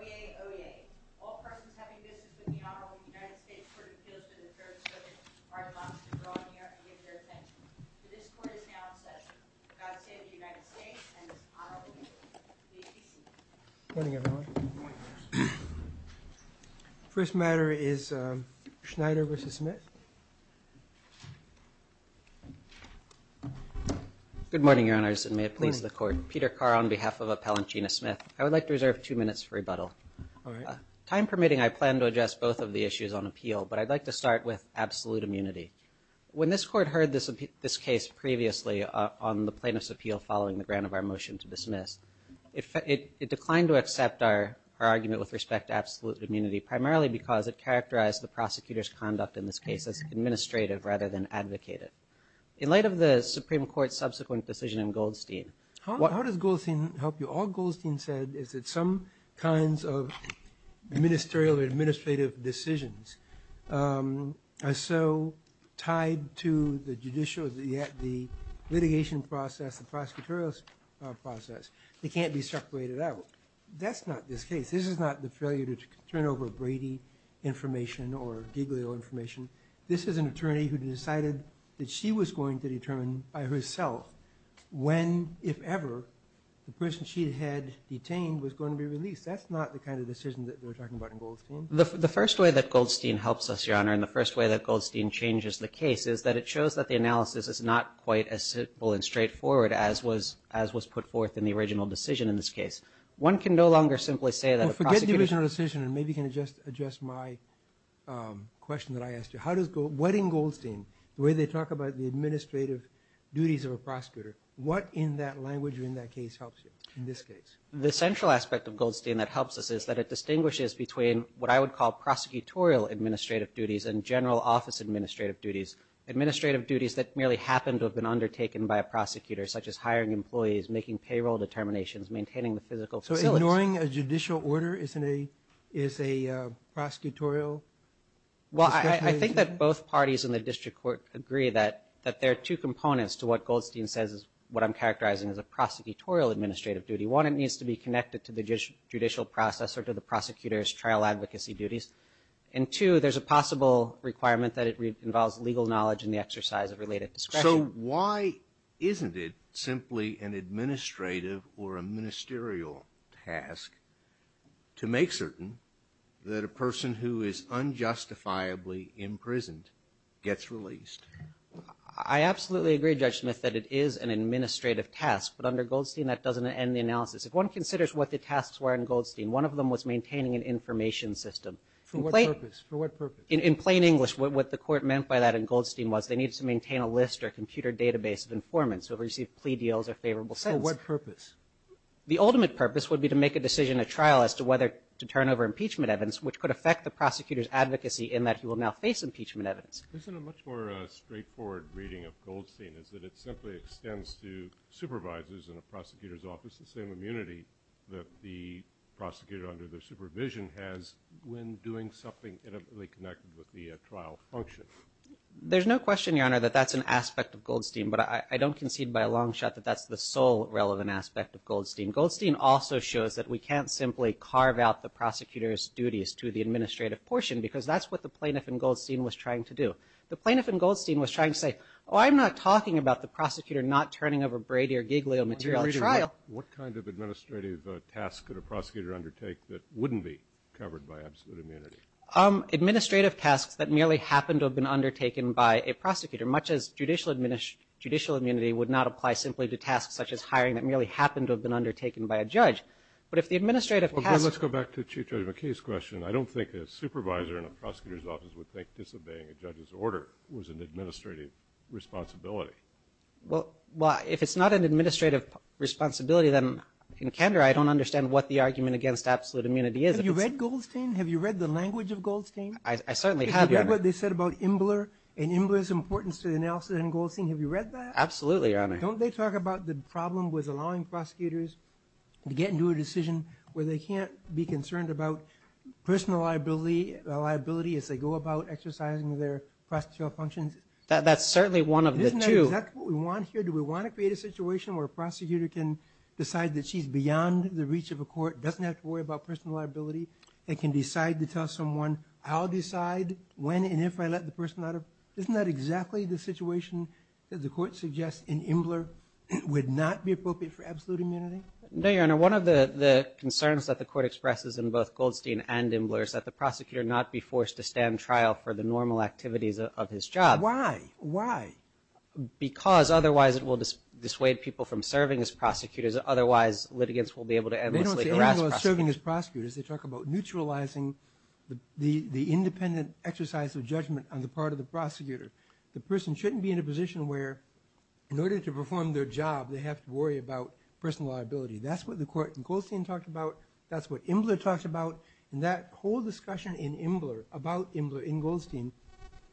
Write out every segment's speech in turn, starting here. Oyez, oyez. All persons having business with the Honorable United States Court of Appeals to the Third Circuit are advised to draw near and give their attention. For this court is now in session. God save the United States and its Honorable Members. Please be seated. Good morning, everyone. First matter is Schneyder v. Smith. Good morning, Your Honors, and may it please the Court. Peter Carr on behalf of Appellant Gina Smith. I would like to reserve two minutes for rebuttal. Time permitting, I plan to address both of the issues on appeal, but I'd like to start with absolute immunity. When this Court heard this case previously on the plaintiff's appeal following the grant of our motion to dismiss, it declined to accept our argument with respect to absolute immunity, primarily because it characterized the prosecutor's conduct in this case as administrative rather than advocated. In light of the Supreme Court's subsequent decision in Goldstein, How does Goldstein help you? All Goldstein said is that some kinds of ministerial or administrative decisions are so tied to the judicial, the litigation process, the prosecutorial process, they can't be separated out. That's not this case. This is not the failure to turn over Brady information or Giglio information. This is an attorney who decided that she was going to determine by herself when, if ever, the person she had detained was going to be released. That's not the kind of decision that they're talking about in Goldstein. The first way that Goldstein helps us, Your Honor, and the first way that Goldstein changes the case is that it shows that the analysis is not quite as simple and straightforward as was put forth in the original decision in this case. One can no longer simply say that a prosecutor Well, forget the original decision, and maybe you can address my question that I asked you. What in Goldstein, the way they talk about the administrative duties of a prosecutor, what in that language or in that case helps you in this case? The central aspect of Goldstein that helps us is that it distinguishes between what I would call prosecutorial administrative duties and general office administrative duties, administrative duties that merely happen to have been undertaken by a prosecutor, such as hiring employees, making payroll determinations, maintaining the physical facility. So ignoring a judicial order is a prosecutorial Well, I think that both parties in the district court agree that there are two components to what Goldstein says is what I'm characterizing as a prosecutorial administrative duty. One, it needs to be connected to the judicial process or to the prosecutor's trial advocacy duties. And two, there's a possible requirement that it involves legal knowledge and the exercise of related discretion. So why isn't it simply an administrative or a ministerial task to make certain that a person who is unjustifiably imprisoned gets released? I absolutely agree, Judge Smith, that it is an administrative task. But under Goldstein, that doesn't end the analysis. If one considers what the tasks were in Goldstein, one of them was maintaining an information system. For what purpose? In plain English, what the court meant by that in Goldstein was they needed to maintain a list or a computer database of informants who received plea deals or favorable sentences. For what purpose? The ultimate purpose would be to make a decision at trial as to whether to turn over impeachment evidence, which could affect the prosecutor's advocacy in that he will now face impeachment evidence. Isn't a much more straightforward reading of Goldstein is that it simply extends to supervisors in a prosecutor's office the same immunity that the prosecutor under their supervision has when doing something intimately connected with the trial function? There's no question, Your Honor, that that's an aspect of Goldstein, but I don't concede by a long shot that that's the sole relevant aspect of Goldstein. Goldstein also shows that we can't simply carve out the prosecutor's duties to the administrative portion because that's what the plaintiff in Goldstein was trying to do. The plaintiff in Goldstein was trying to say, oh, I'm not talking about the prosecutor not turning over Brady or Giglio material at trial. What kind of administrative task could a prosecutor undertake that wouldn't be covered by absolute immunity? Administrative tasks that merely happened to have been undertaken by a prosecutor, much as judicial immunity would not apply simply to tasks such as hiring that merely happened to have been undertaken by a judge. But if the administrative tasks would think disobeying a judge's order was an administrative responsibility. Well, if it's not an administrative responsibility, then in candor I don't understand what the argument against absolute immunity is. Have you read Goldstein? Have you read the language of Goldstein? I certainly have, Your Honor. Have you read what they said about Imbler and Imbler's importance to the analysis in Goldstein? Have you read that? Absolutely, Your Honor. Don't they talk about the problem with allowing prosecutors to get into a decision where they can't be concerned about personal liability as they go about exercising their prosecutorial functions? That's certainly one of the two. Isn't that exactly what we want here? Do we want to create a situation where a prosecutor can decide that she's beyond the reach of a court, doesn't have to worry about personal liability, and can decide to tell someone, I'll decide when and if I let the person out of. Isn't that exactly the situation that the court suggests in Imbler would not be appropriate for absolute immunity? No, Your Honor. One of the concerns that the court expresses in both Goldstein and Imbler is that the prosecutor not be forced to stand trial for the normal activities of his job. Why? Why? Because otherwise it will dissuade people from serving as prosecutors. Otherwise, litigants will be able to endlessly harass prosecutors. They don't say Imbler is serving as prosecutors. They talk about neutralizing the independent exercise of judgment on the part of the prosecutor. The person shouldn't be in a position where in order to perform their job, they have to worry about personal liability. That's what the court in Goldstein talked about. That's what Imbler talked about. And that whole discussion in Imbler about Imbler in Goldstein,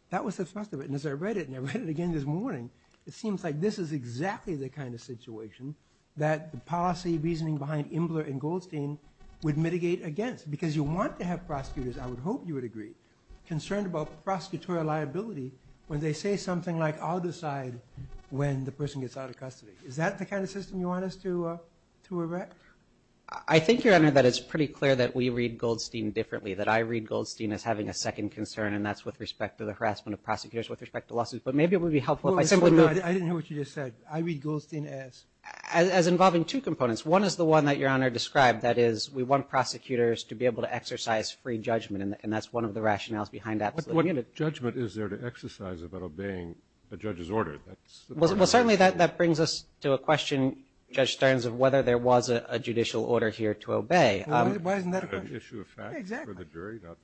that was the first of it. And as I read it, and I read it again this morning, it seems like this is exactly the kind of situation that the policy reasoning behind Imbler in Goldstein would mitigate against. Because you want to have prosecutors, I would hope you would agree, concerned about prosecutorial liability when they say something like, I'll decide when the person gets out of custody. Is that the kind of system you want us to erect? I think, Your Honor, that it's pretty clear that we read Goldstein differently, that I read Goldstein as having a second concern, and that's with respect to the harassment of prosecutors, with respect to lawsuits. But maybe it would be helpful if I simply moved. I didn't hear what you just said. I read Goldstein as? As involving two components. One is the one that Your Honor described, that is we want prosecutors to be able to exercise free judgment, and that's one of the rationales behind that. What judgment is there to exercise about obeying a judge's order? Well, certainly that brings us to a question, Judge Stearns, of whether there was a judicial order here to obey. Why isn't that a question? Exactly.